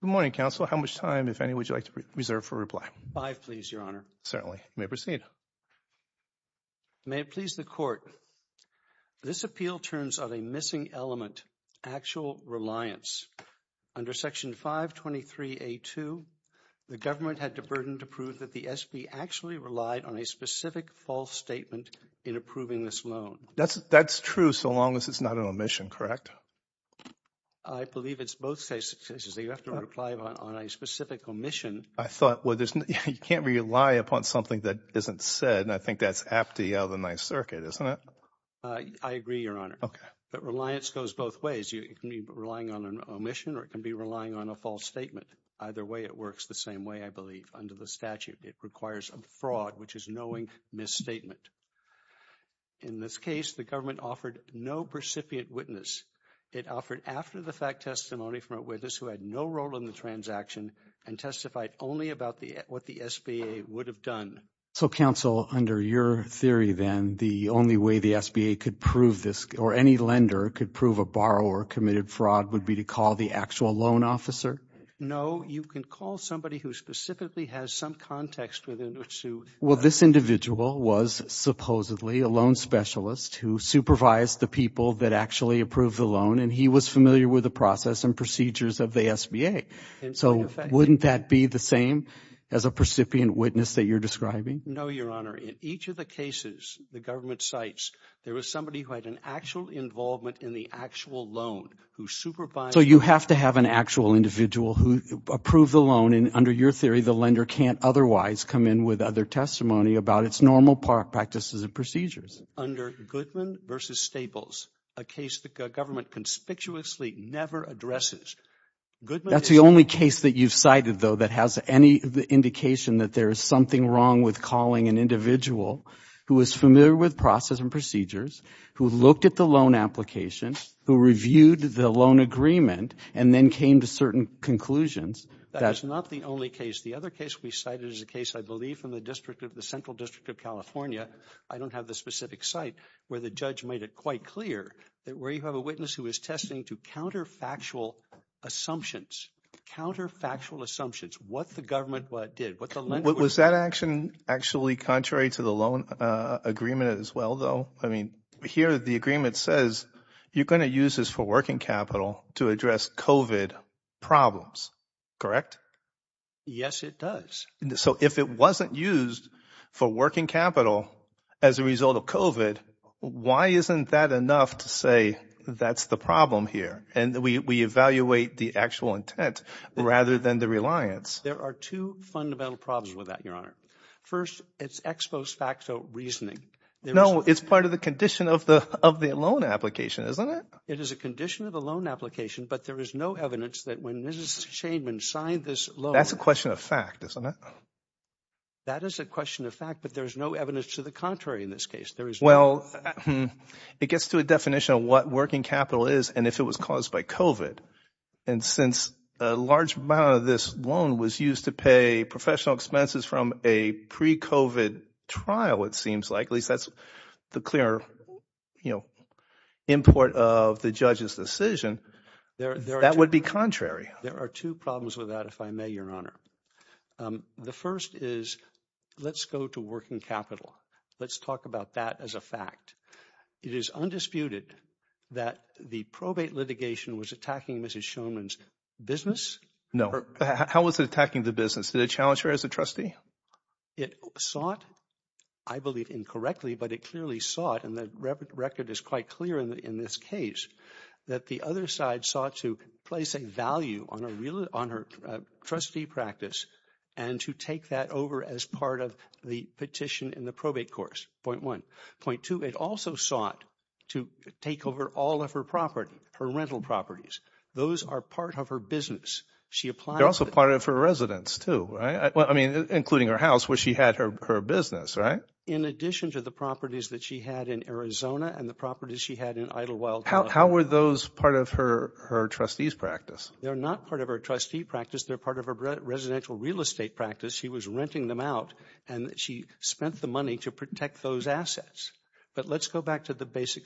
Good morning, Counsel. How much time, if any, would you like to reserve for reply? Five, please, Your Honor. Certainly. You may proceed. May it please the Court, this appeal turns on a missing element, actual reliance. Under Section 523A2, the government had the burden to prove that the SB actually relied on a specific false statement in approving this loan. That's true so long as it's not an omission, correct? I believe it's both cases. You have to reply on a specific omission. I thought you can't rely upon something that isn't said, and I think that's aptly out of the Ninth Circuit, isn't it? I agree, Your Honor. Okay. But reliance goes both ways. It can be relying on an omission or it can be relying on a false statement. Either way, it works the same way, I believe, under the statute. It requires a fraud, which is knowing misstatement. In this case, the government offered no precipient witness. It offered after-the-fact testimony from a witness who had no role in the transaction and testified only about what the SBA would have done. So, counsel, under your theory, then, the only way the SBA could prove this or any lender could prove a borrower committed fraud would be to call the actual loan officer? No. You can call somebody who specifically has some context within which to… Well, this individual was supposedly a loan specialist who supervised the people that actually approved the loan, and he was familiar with the process and procedures of the SBA. So wouldn't that be the same as a precipient witness that you're describing? No, Your Honor. In each of the cases the government cites, there was somebody who had an actual involvement in the actual loan who supervised… So you have to have an actual individual who approved the loan, and under your theory, the lender can't otherwise come in with other testimony about its normal practices and procedures. Under Goodman v. Staples, a case the government conspicuously never addresses, Goodman is… That's the only case that you've cited, though, that has any indication that there is something wrong with calling an individual who is familiar with process and procedures, who looked at the loan application, who reviewed the loan agreement, and then came to certain conclusions. That is not the only case. The other case we cited is a case I believe from the central district of California. I don't have the specific site where the judge made it quite clear that where you have a witness who is testing to counterfactual assumptions, counterfactual assumptions, what the government did, what the lender… Was that action actually contrary to the loan agreement as well, though? I mean here the agreement says you're going to use this for working capital to address COVID problems, correct? Yes, it does. So if it wasn't used for working capital as a result of COVID, why isn't that enough to say that's the problem here? And we evaluate the actual intent rather than the reliance. There are two fundamental problems with that, Your Honor. First, it's ex post facto reasoning. No, it's part of the condition of the loan application, isn't it? It is a condition of the loan application, but there is no evidence that when Mrs. Shainman signed this loan… That's a question of fact, isn't it? That is a question of fact, but there is no evidence to the contrary in this case. Well, it gets to a definition of what working capital is and if it was caused by COVID. And since a large amount of this loan was used to pay professional expenses from a pre-COVID trial, it seems like, at least that's the clear import of the judge's decision, that would be contrary. There are two problems with that, if I may, Your Honor. The first is, let's go to working capital. Let's talk about that as a fact. It is undisputed that the probate litigation was attacking Mrs. Shainman's business. No. How was it attacking the business? Did it challenge her as a trustee? It sought, I believe incorrectly, but it clearly sought, and the record is quite clear in this case, that the other side sought to place a value on her trustee practice and to take that over as part of the petition in the probate course. Point one. Point two, it also sought to take over all of her property, her rental properties. Those are part of her business. They're also part of her residence, too, right? I mean, including her house, where she had her business, right? In addition to the properties that she had in Arizona and the properties she had in Idyllwild. How were those part of her trustee's practice? They're not part of her trustee practice. They're part of her residential real estate practice. She was renting them out, and she spent the money to protect those assets. But let's go back to the basic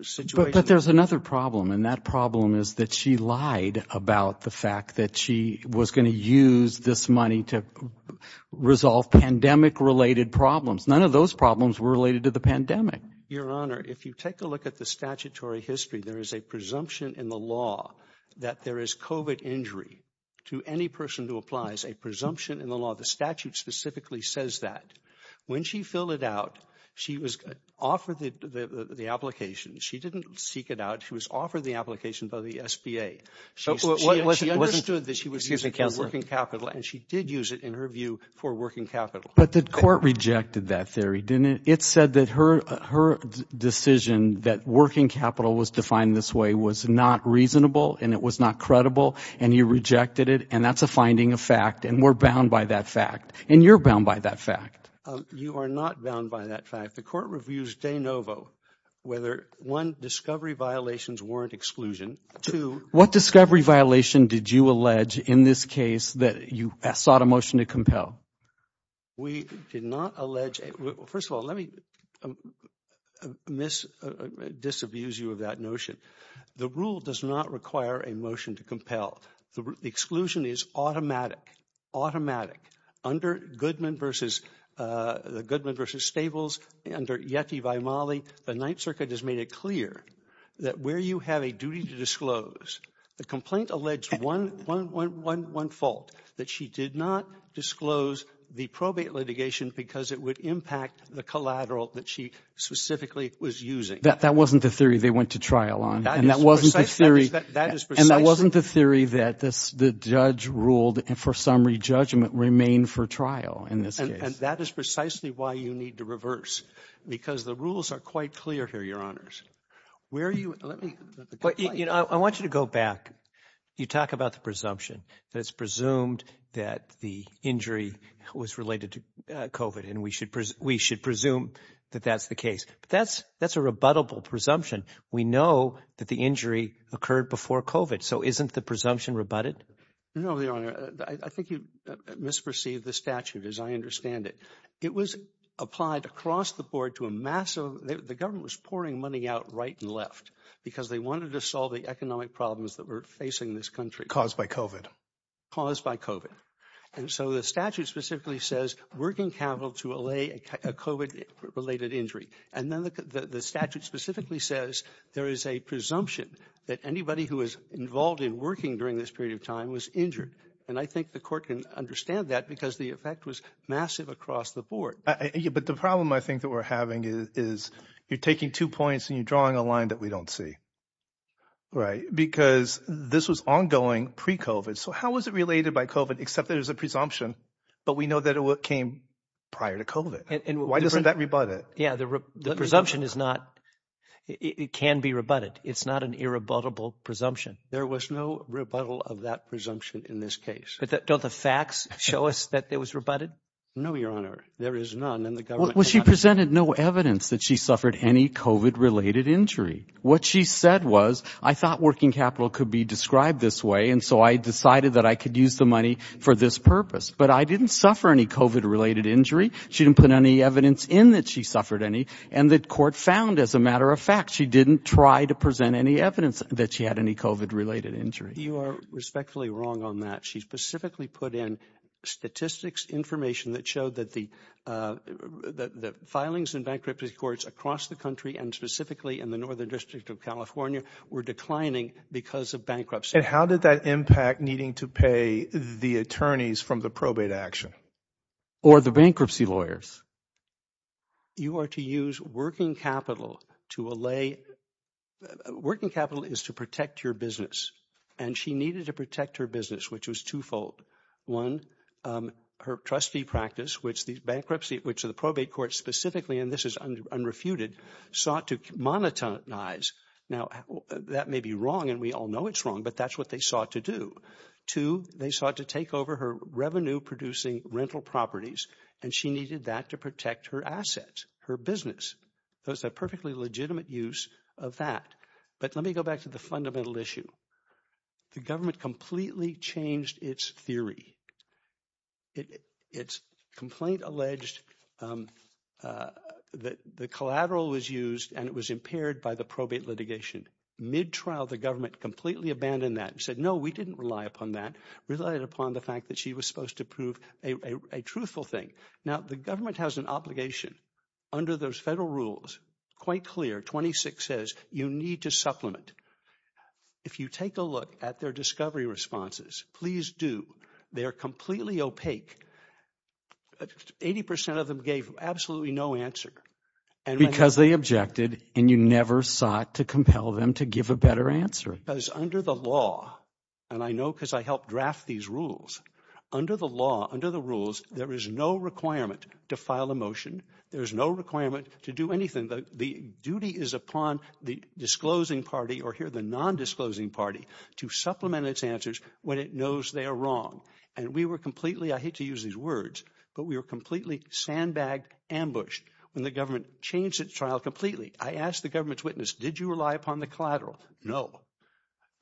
situation. But there's another problem, and that problem is that she lied about the fact that she was going to use this money to resolve pandemic-related problems. None of those problems were related to the pandemic. Your Honor, if you take a look at the statutory history, there is a presumption in the law that there is COVID injury to any person who applies, a presumption in the law. The statute specifically says that. When she filled it out, she was offered the application. She didn't seek it out. She was offered the application by the SBA. She understood that she was using working capital, and she did use it, in her view, for working capital. But the court rejected that theory, didn't it? It said that her decision that working capital was defined this way was not reasonable and it was not credible, and you rejected it. And that's a finding of fact, and we're bound by that fact. And you're bound by that fact. You are not bound by that fact. The court reviews de novo whether, one, discovery violations warrant exclusion. Two— What discovery violation did you allege in this case that you sought a motion to compel? We did not allege—first of all, let me mis—disabuse you of that notion. The rule does not require a motion to compel. The exclusion is automatic, automatic. Under Goodman v. Stables, under Yeti by Mali, the Ninth Circuit has made it clear that where you have a duty to disclose, the complaint alleged one fault, that she did not disclose the probate litigation because it would impact the collateral that she specifically was using. That wasn't the theory they went to trial on. That is precise. And that wasn't the theory that the judge ruled for summary judgment remain for trial in this case. And that is precisely why you need to reverse, because the rules are quite clear here, Your Honors. Where are you—let me— I want you to go back. You talk about the presumption that it's presumed that the injury was related to COVID, and we should presume that that's the case. That's a rebuttable presumption. We know that the injury occurred before COVID, so isn't the presumption rebutted? No, Your Honor. I think you misperceived the statute, as I understand it. It was applied across the board to a massive—the government was pouring money out right and left because they wanted to solve the economic problems that were facing this country. Caused by COVID. Caused by COVID. And so the statute specifically says working capital to allay a COVID-related injury. And then the statute specifically says there is a presumption that anybody who was involved in working during this period of time was injured. And I think the court can understand that because the effect was massive across the board. But the problem, I think, that we're having is you're taking two points and you're drawing a line that we don't see. Right. Because this was ongoing pre-COVID. So how was it related by COVID, except that it was a presumption, but we know that it came prior to COVID? Why doesn't that rebut it? Yeah, the presumption is not—it can be rebutted. It's not an irrebuttable presumption. There was no rebuttal of that presumption in this case. But don't the facts show us that it was rebutted? No, Your Honor. There is none, and the government— Well, she presented no evidence that she suffered any COVID-related injury. What she said was, I thought working capital could be described this way, and so I decided that I could use the money for this purpose. But I didn't suffer any COVID-related injury. She didn't put any evidence in that she suffered any, and the court found, as a matter of fact, she didn't try to present any evidence that she had any COVID-related injury. You are respectfully wrong on that. She specifically put in statistics information that showed that the filings in bankruptcy courts across the country and specifically in the Northern District of California were declining because of bankruptcy. And how did that impact needing to pay the attorneys from the probate action? Or the bankruptcy lawyers? You are to use working capital to allay—working capital is to protect your business, and she needed to protect her business, which was twofold. One, her trustee practice, which the bankruptcy—which the probate court specifically, and this is unrefuted, sought to monetize. Now, that may be wrong, and we all know it's wrong, but that's what they sought to do. Two, they sought to take over her revenue-producing rental properties, and she needed that to protect her assets, her business. It was a perfectly legitimate use of that. But let me go back to the fundamental issue. The government completely changed its theory. Its complaint alleged that the collateral was used and it was impaired by the probate litigation. Mid-trial, the government completely abandoned that and said, no, we didn't rely upon that. We relied upon the fact that she was supposed to prove a truthful thing. Now, the government has an obligation. Under those federal rules, quite clear, 26 says you need to supplement. If you take a look at their discovery responses, please do. They are completely opaque. Eighty percent of them gave absolutely no answer. Because they objected and you never sought to compel them to give a better answer. Because under the law, and I know because I helped draft these rules, under the law, under the rules, there is no requirement to file a motion. There is no requirement to do anything. The duty is upon the disclosing party or here the nondisclosing party to supplement its answers when it knows they are wrong. And we were completely, I hate to use these words, but we were completely sandbagged, ambushed when the government changed its trial completely. I asked the government's witness, did you rely upon the collateral? No.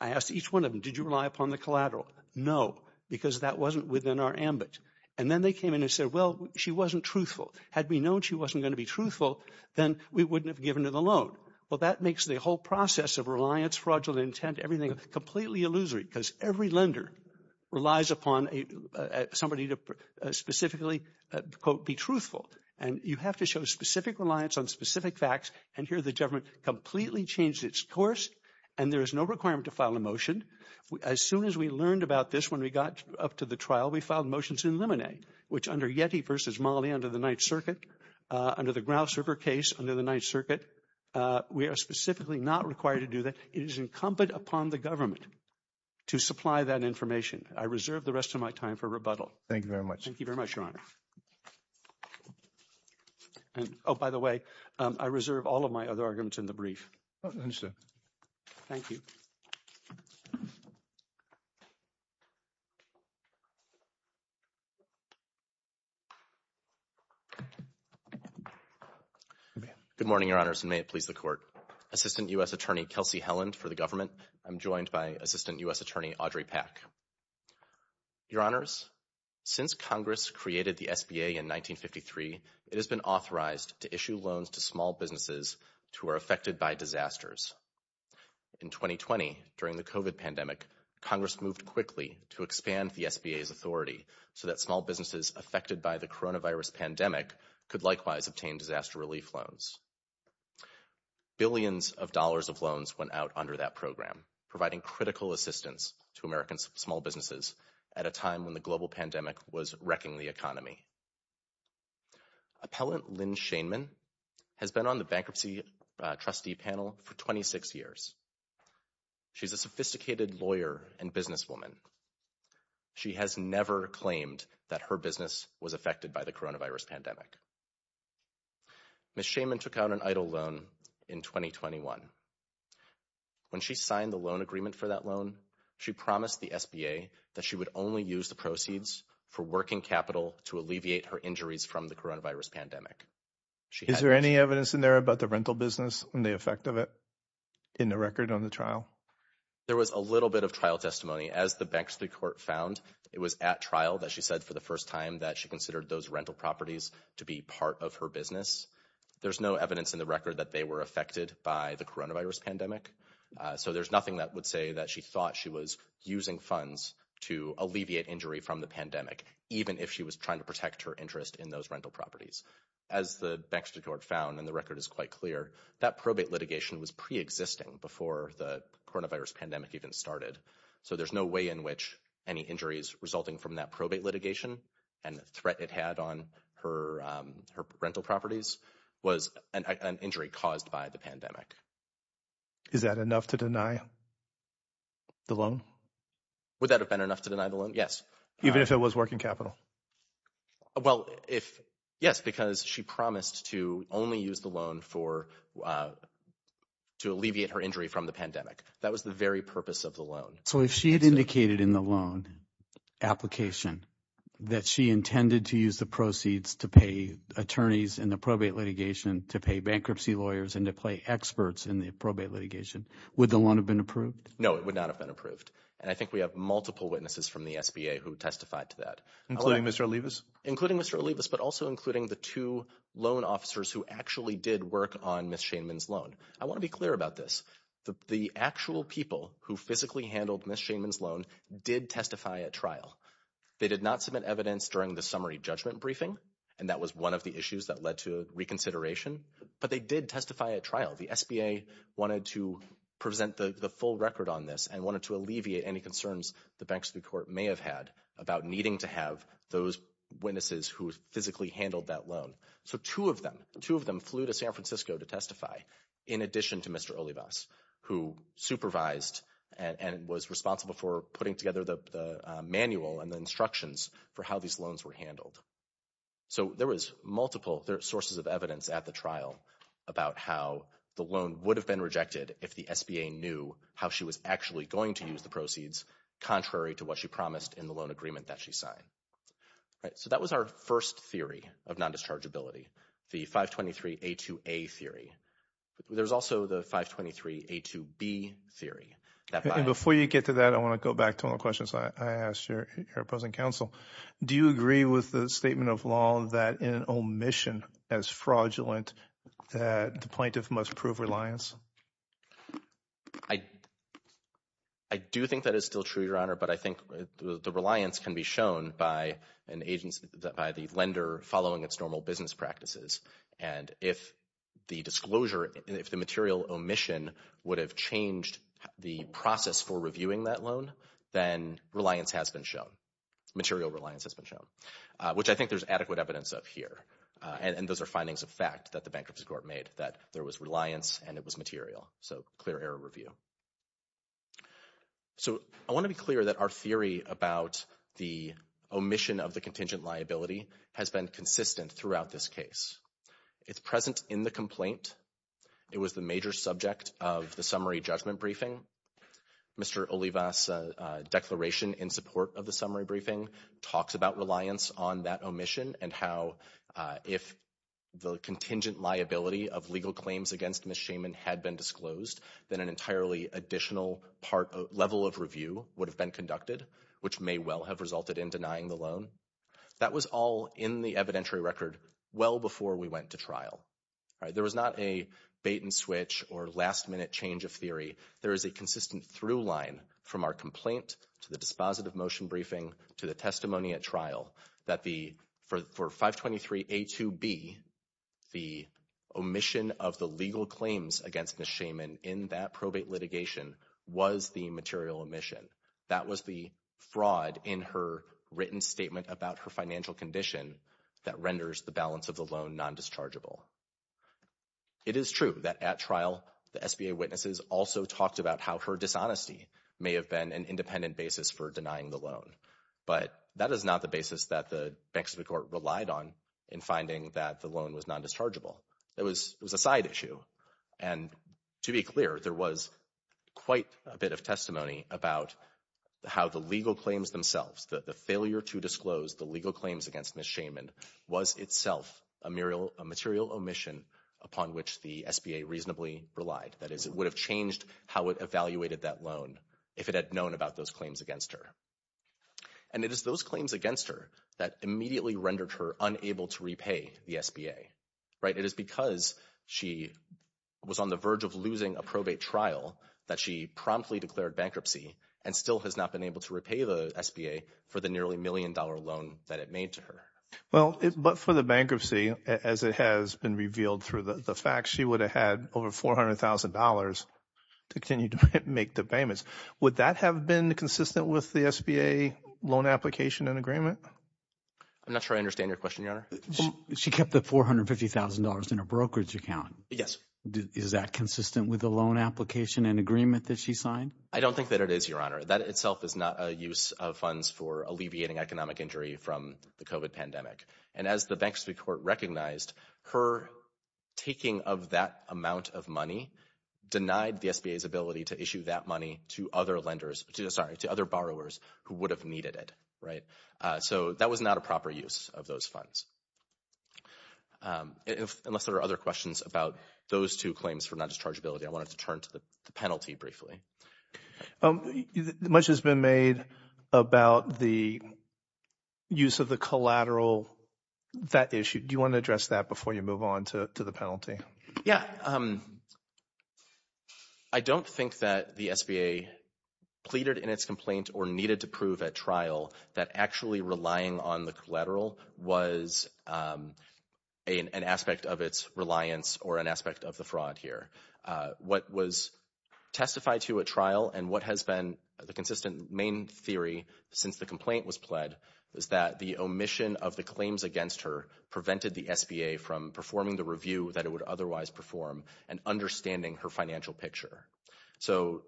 I asked each one of them, did you rely upon the collateral? No, because that wasn't within our ambit. And then they came in and said, well, she wasn't truthful. Had we known she wasn't going to be truthful, then we wouldn't have given her the loan. Well, that makes the whole process of reliance, fraudulent intent, everything completely illusory because every lender relies upon somebody to specifically, quote, be truthful. And you have to show specific reliance on specific facts. And here the government completely changed its course and there is no requirement to file a motion. As soon as we learned about this, when we got up to the trial, we filed motions in limine, which under Yeti versus Mali under the Ninth Circuit, under the Grouse River case under the Ninth Circuit, we are specifically not required to do that. It is incumbent upon the government to supply that information. I reserve the rest of my time for rebuttal. Thank you very much. Thank you very much, Your Honor. Oh, by the way, I reserve all of my other arguments in the brief. Understood. Thank you. Good morning, Your Honors, and may it please the Court. Assistant U.S. Attorney Kelsey Helland for the government. I'm joined by Assistant U.S. Attorney Audrey Pack. Your Honors, since Congress created the SBA in 1953, it has been authorized to issue loans to small businesses who are affected by disasters. In 2020, during the COVID pandemic, Congress moved quickly to expand the SBA's authority so that small businesses affected by the coronavirus pandemic could likewise obtain disaster relief loans. Billions of dollars of loans went out under that program, providing critical assistance to American small businesses at a time when the global pandemic was wrecking the economy. Appellant Lynn Shainman has been on the Bankruptcy Trustee Panel for 26 years. She's a sophisticated lawyer and businesswoman. She has never claimed that her business was affected by the coronavirus pandemic. Ms. Shainman took out an EIDL loan in 2021. When she signed the loan agreement for that loan, she promised the SBA that she would only use the proceeds for working capital to alleviate her injuries from the coronavirus pandemic. Is there any evidence in there about the rental business and the effect of it in the record on the trial? There was a little bit of trial testimony. As the Bankruptcy Court found, it was at trial that she said for the first time that she considered those rental properties to be part of her business. There's no evidence in the record that they were affected by the coronavirus pandemic. So there's nothing that would say that she thought she was using funds to alleviate injury from the pandemic, even if she was trying to protect her interest in those rental properties. As the Bankruptcy Court found, and the record is quite clear, that probate litigation was pre-existing before the coronavirus pandemic even started. So there's no way in which any injuries resulting from that probate litigation and the threat it had on her rental properties was an injury caused by the pandemic. Is that enough to deny the loan? Would that have been enough to deny the loan? Yes. Even if it was working capital? Yes, because she promised to only use the loan to alleviate her injury from the pandemic. That was the very purpose of the loan. So if she had indicated in the loan application that she intended to use the proceeds to pay attorneys in the probate litigation, to pay bankruptcy lawyers, and to pay experts in the probate litigation, would the loan have been approved? No, it would not have been approved. And I think we have multiple witnesses from the SBA who testified to that. Including Mr. Olivas? Including Mr. Olivas, but also including the two loan officers who actually did work on Ms. Shainman's loan. I want to be clear about this. The actual people who physically handled Ms. Shainman's loan did testify at trial. They did not submit evidence during the summary judgment briefing, and that was one of the issues that led to reconsideration, but they did testify at trial. The SBA wanted to present the full record on this and wanted to alleviate any concerns the bankruptcy court may have had about needing to have those witnesses who physically handled that loan. So two of them flew to San Francisco to testify, in addition to Mr. Olivas, who supervised and was responsible for putting together the manual and the instructions for how these loans were handled. So there was multiple sources of evidence at the trial about how the loan would have been rejected if the SBA knew how she was actually going to use the proceeds, contrary to what she promised in the loan agreement that she signed. So that was our first theory of non-dischargeability. The 523A2A theory. There's also the 523A2B theory. Before you get to that, I want to go back to one of the questions I asked your opposing counsel. Do you agree with the statement of law that in an omission as fraudulent, the plaintiff must prove reliance? I do think that is still true, Your Honor, but I think the reliance can be shown by the lender following its normal business practices. And if the disclosure, if the material omission would have changed the process for reviewing that loan, then reliance has been shown, material reliance has been shown, which I think there's adequate evidence of here. And those are findings of fact that the Bankruptcy Court made, that there was reliance and it was material. So clear error review. So I want to be clear that our theory about the omission of the contingent liability has been consistent throughout this case. It's present in the complaint. It was the major subject of the summary judgment briefing. Mr. Olivas' declaration in support of the summary briefing talks about reliance on that omission and how if the contingent liability of legal claims against Ms. Shaman had been disclosed, then an entirely additional level of review would have been conducted, which may well have resulted in denying the loan. That was all in the evidentiary record well before we went to trial. There was not a bait-and-switch or last-minute change of theory. There is a consistent through-line from our complaint to the dispositive motion briefing to the testimony at trial that for 523A2B, the omission of the legal claims against Ms. Shaman in that probate litigation was the material omission. That was the fraud in her written statement about her financial condition that renders the balance of the loan non-dischargeable. It is true that at trial, the SBA witnesses also talked about how her dishonesty may have been an independent basis for denying the loan. But that is not the basis that the Banks of the Court relied on in finding that the loan was non-dischargeable. It was a side issue, and to be clear, there was quite a bit of testimony about how the legal claims themselves, the failure to disclose the legal claims against Ms. Shaman, was itself a material omission upon which the SBA reasonably relied. That is, it would have changed how it evaluated that loan if it had known about those claims against her. And it is those claims against her that immediately rendered her unable to repay the SBA. It is because she was on the verge of losing a probate trial that she promptly declared bankruptcy and still has not been able to repay the SBA for the nearly million-dollar loan that it made to her. Well, but for the bankruptcy, as it has been revealed through the facts, she would have had over $400,000 to continue to make the payments. Would that have been consistent with the SBA loan application and agreement? I'm not sure I understand your question, Your Honor. She kept the $450,000 in her brokerage account. Yes. Is that consistent with the loan application and agreement that she signed? I don't think that it is, Your Honor. That itself is not a use of funds for alleviating economic injury from the COVID pandemic. And as the Bank of Sweden Court recognized, her taking of that amount of money denied the SBA's ability to issue that money to other borrowers who would have needed it, right? So that was not a proper use of those funds. Unless there are other questions about those two claims for non-dischargeability, I wanted to turn to the penalty briefly. Much has been made about the use of the collateral, that issue. Do you want to address that before you move on to the penalty? Yeah. I don't think that the SBA pleaded in its complaint or needed to prove at trial that actually relying on the collateral was an aspect of its reliance or an aspect of the fraud here. What was testified to at trial and what has been the consistent main theory since the complaint was pled was that the omission of the claims against her prevented the SBA from performing the review that it would otherwise perform and understanding her financial picture. So,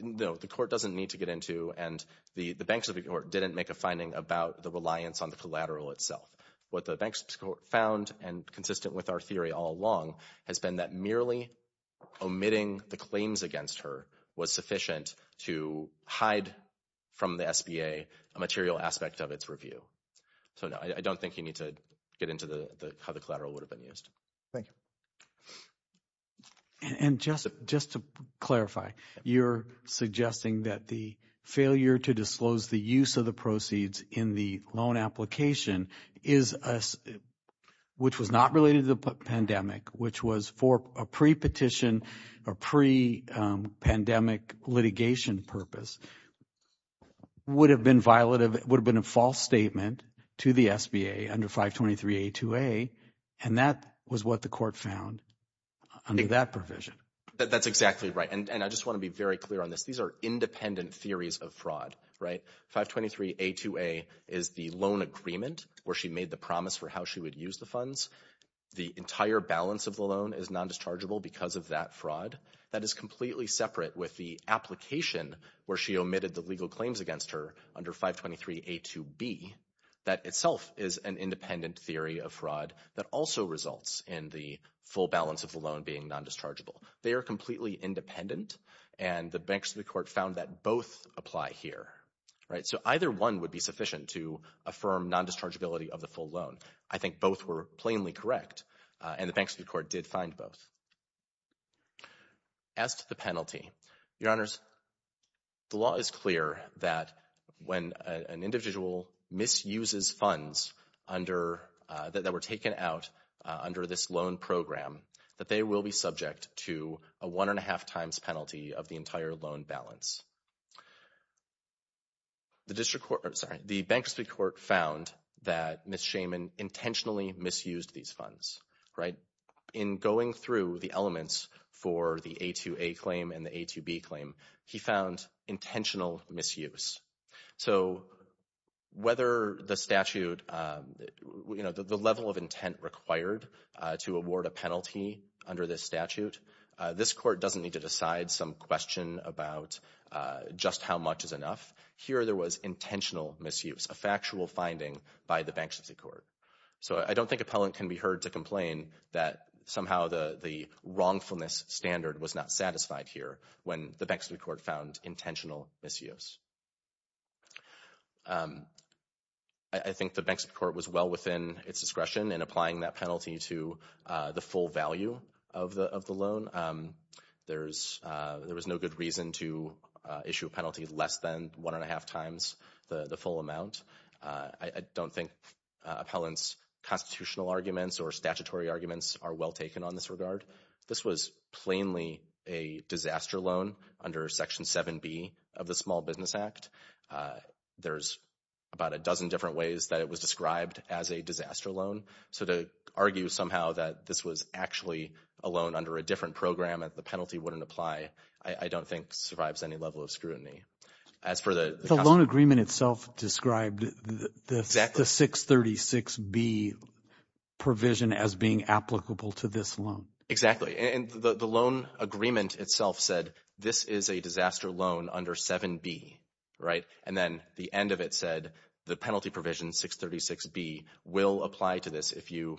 no, the court doesn't need to get into, and the Bank of Sweden Court didn't make a finding about the reliance on the collateral itself. What the banks found and consistent with our theory all along has been that merely omitting the claims against her was sufficient to hide from the SBA a material aspect of its review. So, no, I don't think you need to get into how the collateral would have been used. Thank you. And just to clarify, you're suggesting that the failure to disclose the use of the proceeds in the loan application, which was not related to the pandemic, which was for a pre-petition or pre-pandemic litigation purpose, would have been a false statement to the SBA under 523A2A, and that was what the court found. Under that provision. That's exactly right. And I just want to be very clear on this. These are independent theories of fraud, right? 523A2A is the loan agreement where she made the promise for how she would use the funds. The entire balance of the loan is non-dischargeable because of that fraud. That is completely separate with the application where she omitted the legal claims against her under 523A2B. That itself is an independent theory of fraud that also results in the full balance of the loan being non-dischargeable. They are completely independent, and the banks of the court found that both apply here, right? So either one would be sufficient to affirm non-dischargeability of the full loan. I think both were plainly correct, and the banks of the court did find both. As to the penalty, Your Honors, the law is clear that when an individual misuses funds that were taken out under this loan program, that they will be subject to a one-and-a-half times penalty of the entire loan balance. The banks of the court found that Ms. Shaman intentionally misused these funds, right? In going through the elements for the A2A claim and the A2B claim, he found intentional misuse. So whether the statute, you know, the level of intent required to award a penalty under this statute, this court doesn't need to decide some question about just how much is enough. Here there was intentional misuse, a factual finding by the banks of the court. So I don't think appellant can be heard to complain that somehow the wrongfulness standard was not satisfied here when the banks of the court found intentional misuse. I think the banks of the court was well within its discretion in applying that penalty to the full value of the loan. There was no good reason to issue a penalty less than one-and-a-half times the full amount. I don't think appellant's constitutional arguments or statutory arguments are well taken on this regard. This was plainly a disaster loan under Section 7B of the Small Business Act. There's about a dozen different ways that it was described as a disaster loan. So to argue somehow that this was actually a loan under a different program and the penalty wouldn't apply, I don't think survives any level of scrutiny. The loan agreement itself described the 636B provision as being applicable to this loan. Exactly. And the loan agreement itself said this is a disaster loan under 7B, right? And then the end of it said the penalty provision 636B will apply to this if you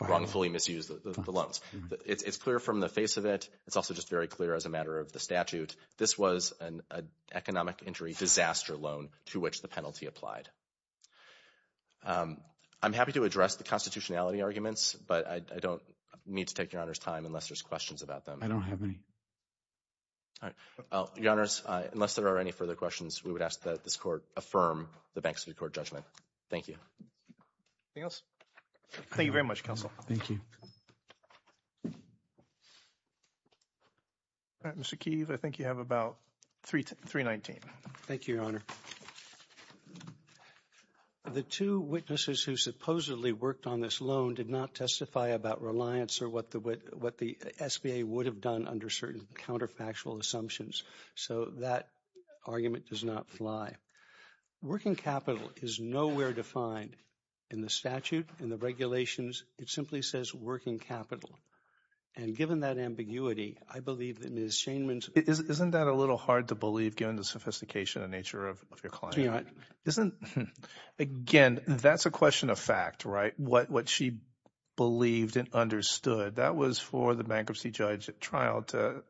wrongfully misuse the loans. It's clear from the face of it. It's also just very clear as a matter of the statute. This was an economic injury disaster loan to which the penalty applied. I'm happy to address the constitutionality arguments, but I don't need to take your Honor's time unless there's questions about them. I don't have any. Your Honors, unless there are any further questions, we would ask that this Court affirm the Bank of the City Court judgment. Thank you. Anything else? Thank you very much, Counsel. Thank you. Mr. Keeve, I think you have about 319. Thank you, Your Honor. The two witnesses who supposedly worked on this loan did not testify about reliance or what the SBA would have done under certain counterfactual assumptions. So that argument does not fly. Working capital is nowhere defined in the statute and the regulations. It simply says working capital. And given that ambiguity, I believe that Ms. Shainman's – Isn't that a little hard to believe given the sophistication and nature of your client? Isn't – again, that's a question of fact, right? What she believed and understood, that was for the bankruptcy judge at trial to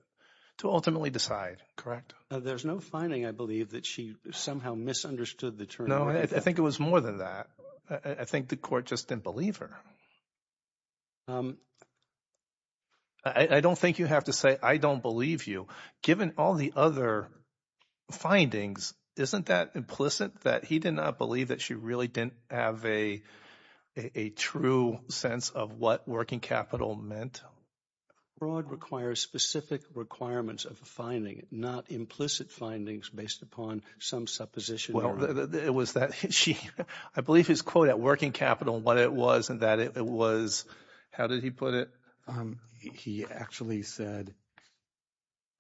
ultimately decide, correct? There's no finding, I believe, that she somehow misunderstood the term. No, I think it was more than that. I think the court just didn't believe her. I don't think you have to say I don't believe you. Given all the other findings, isn't that implicit that he did not believe that she really didn't have a true sense of what working capital meant? Broad requires specific requirements of a finding, not implicit findings based upon some supposition. Well, it was that she – I believe his quote at working capital and what it was and that it was – how did he put it? He actually said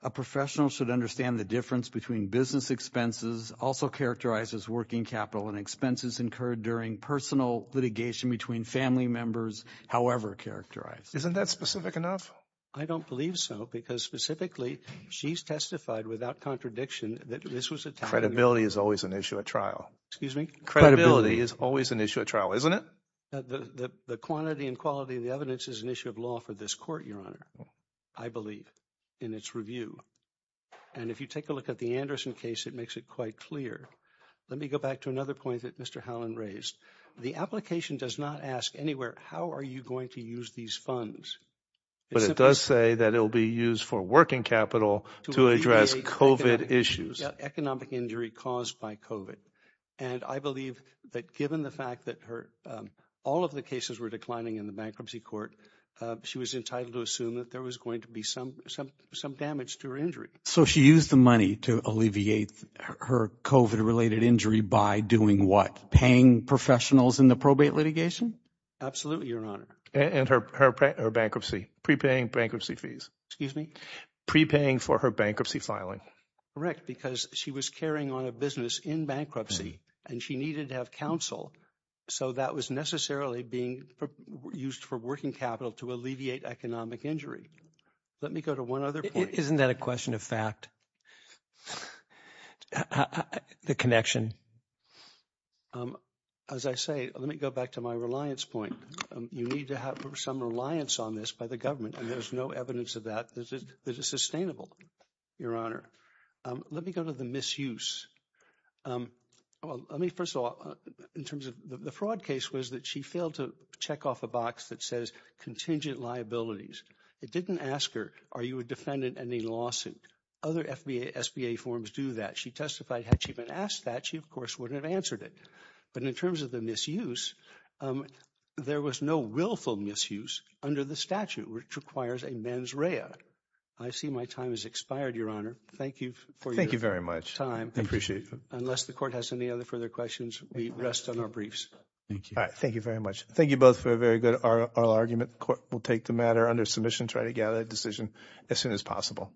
a professional should understand the difference between business expenses, also characterized as working capital, and expenses incurred during personal litigation between family members, however characterized. Isn't that specific enough? I don't believe so because specifically she's testified without contradiction that this was a – Credibility is always an issue at trial. Excuse me? Credibility is always an issue at trial, isn't it? The quantity and quality of the evidence is an issue of law for this court, Your Honor, I believe, in its review. And if you take a look at the Anderson case, it makes it quite clear. Let me go back to another point that Mr. Howland raised. The application does not ask anywhere how are you going to use these funds. But it does say that it will be used for working capital to address COVID issues. Economic injury caused by COVID. And I believe that given the fact that all of the cases were declining in the bankruptcy court, she was entitled to assume that there was going to be some damage to her injury. So she used the money to alleviate her COVID-related injury by doing what? Paying professionals in the probate litigation? Absolutely, Your Honor. And her bankruptcy, prepaying bankruptcy fees. Excuse me? Prepaying for her bankruptcy filing. Correct, because she was carrying on a business in bankruptcy and she needed to have counsel. So that was necessarily being used for working capital to alleviate economic injury. Let me go to one other point. Isn't that a question of fact? The connection. As I say, let me go back to my reliance point. You need to have some reliance on this by the government. And there's no evidence of that. This is sustainable, Your Honor. Let me go to the misuse. Well, let me first of all, in terms of the fraud case was that she failed to check off a box that says contingent liabilities. It didn't ask her, are you a defendant in a lawsuit? Other SBA forms do that. She testified had she been asked that, she, of course, wouldn't have answered it. But in terms of the misuse, there was no willful misuse under the statute, which requires a mens rea. I see my time has expired, Your Honor. Thank you for your time. I appreciate it. Unless the court has any other further questions, we rest on our briefs. Thank you. Thank you very much. Thank you both for a very good oral argument. The court will take the matter under submission, try to gather a decision as soon as possible.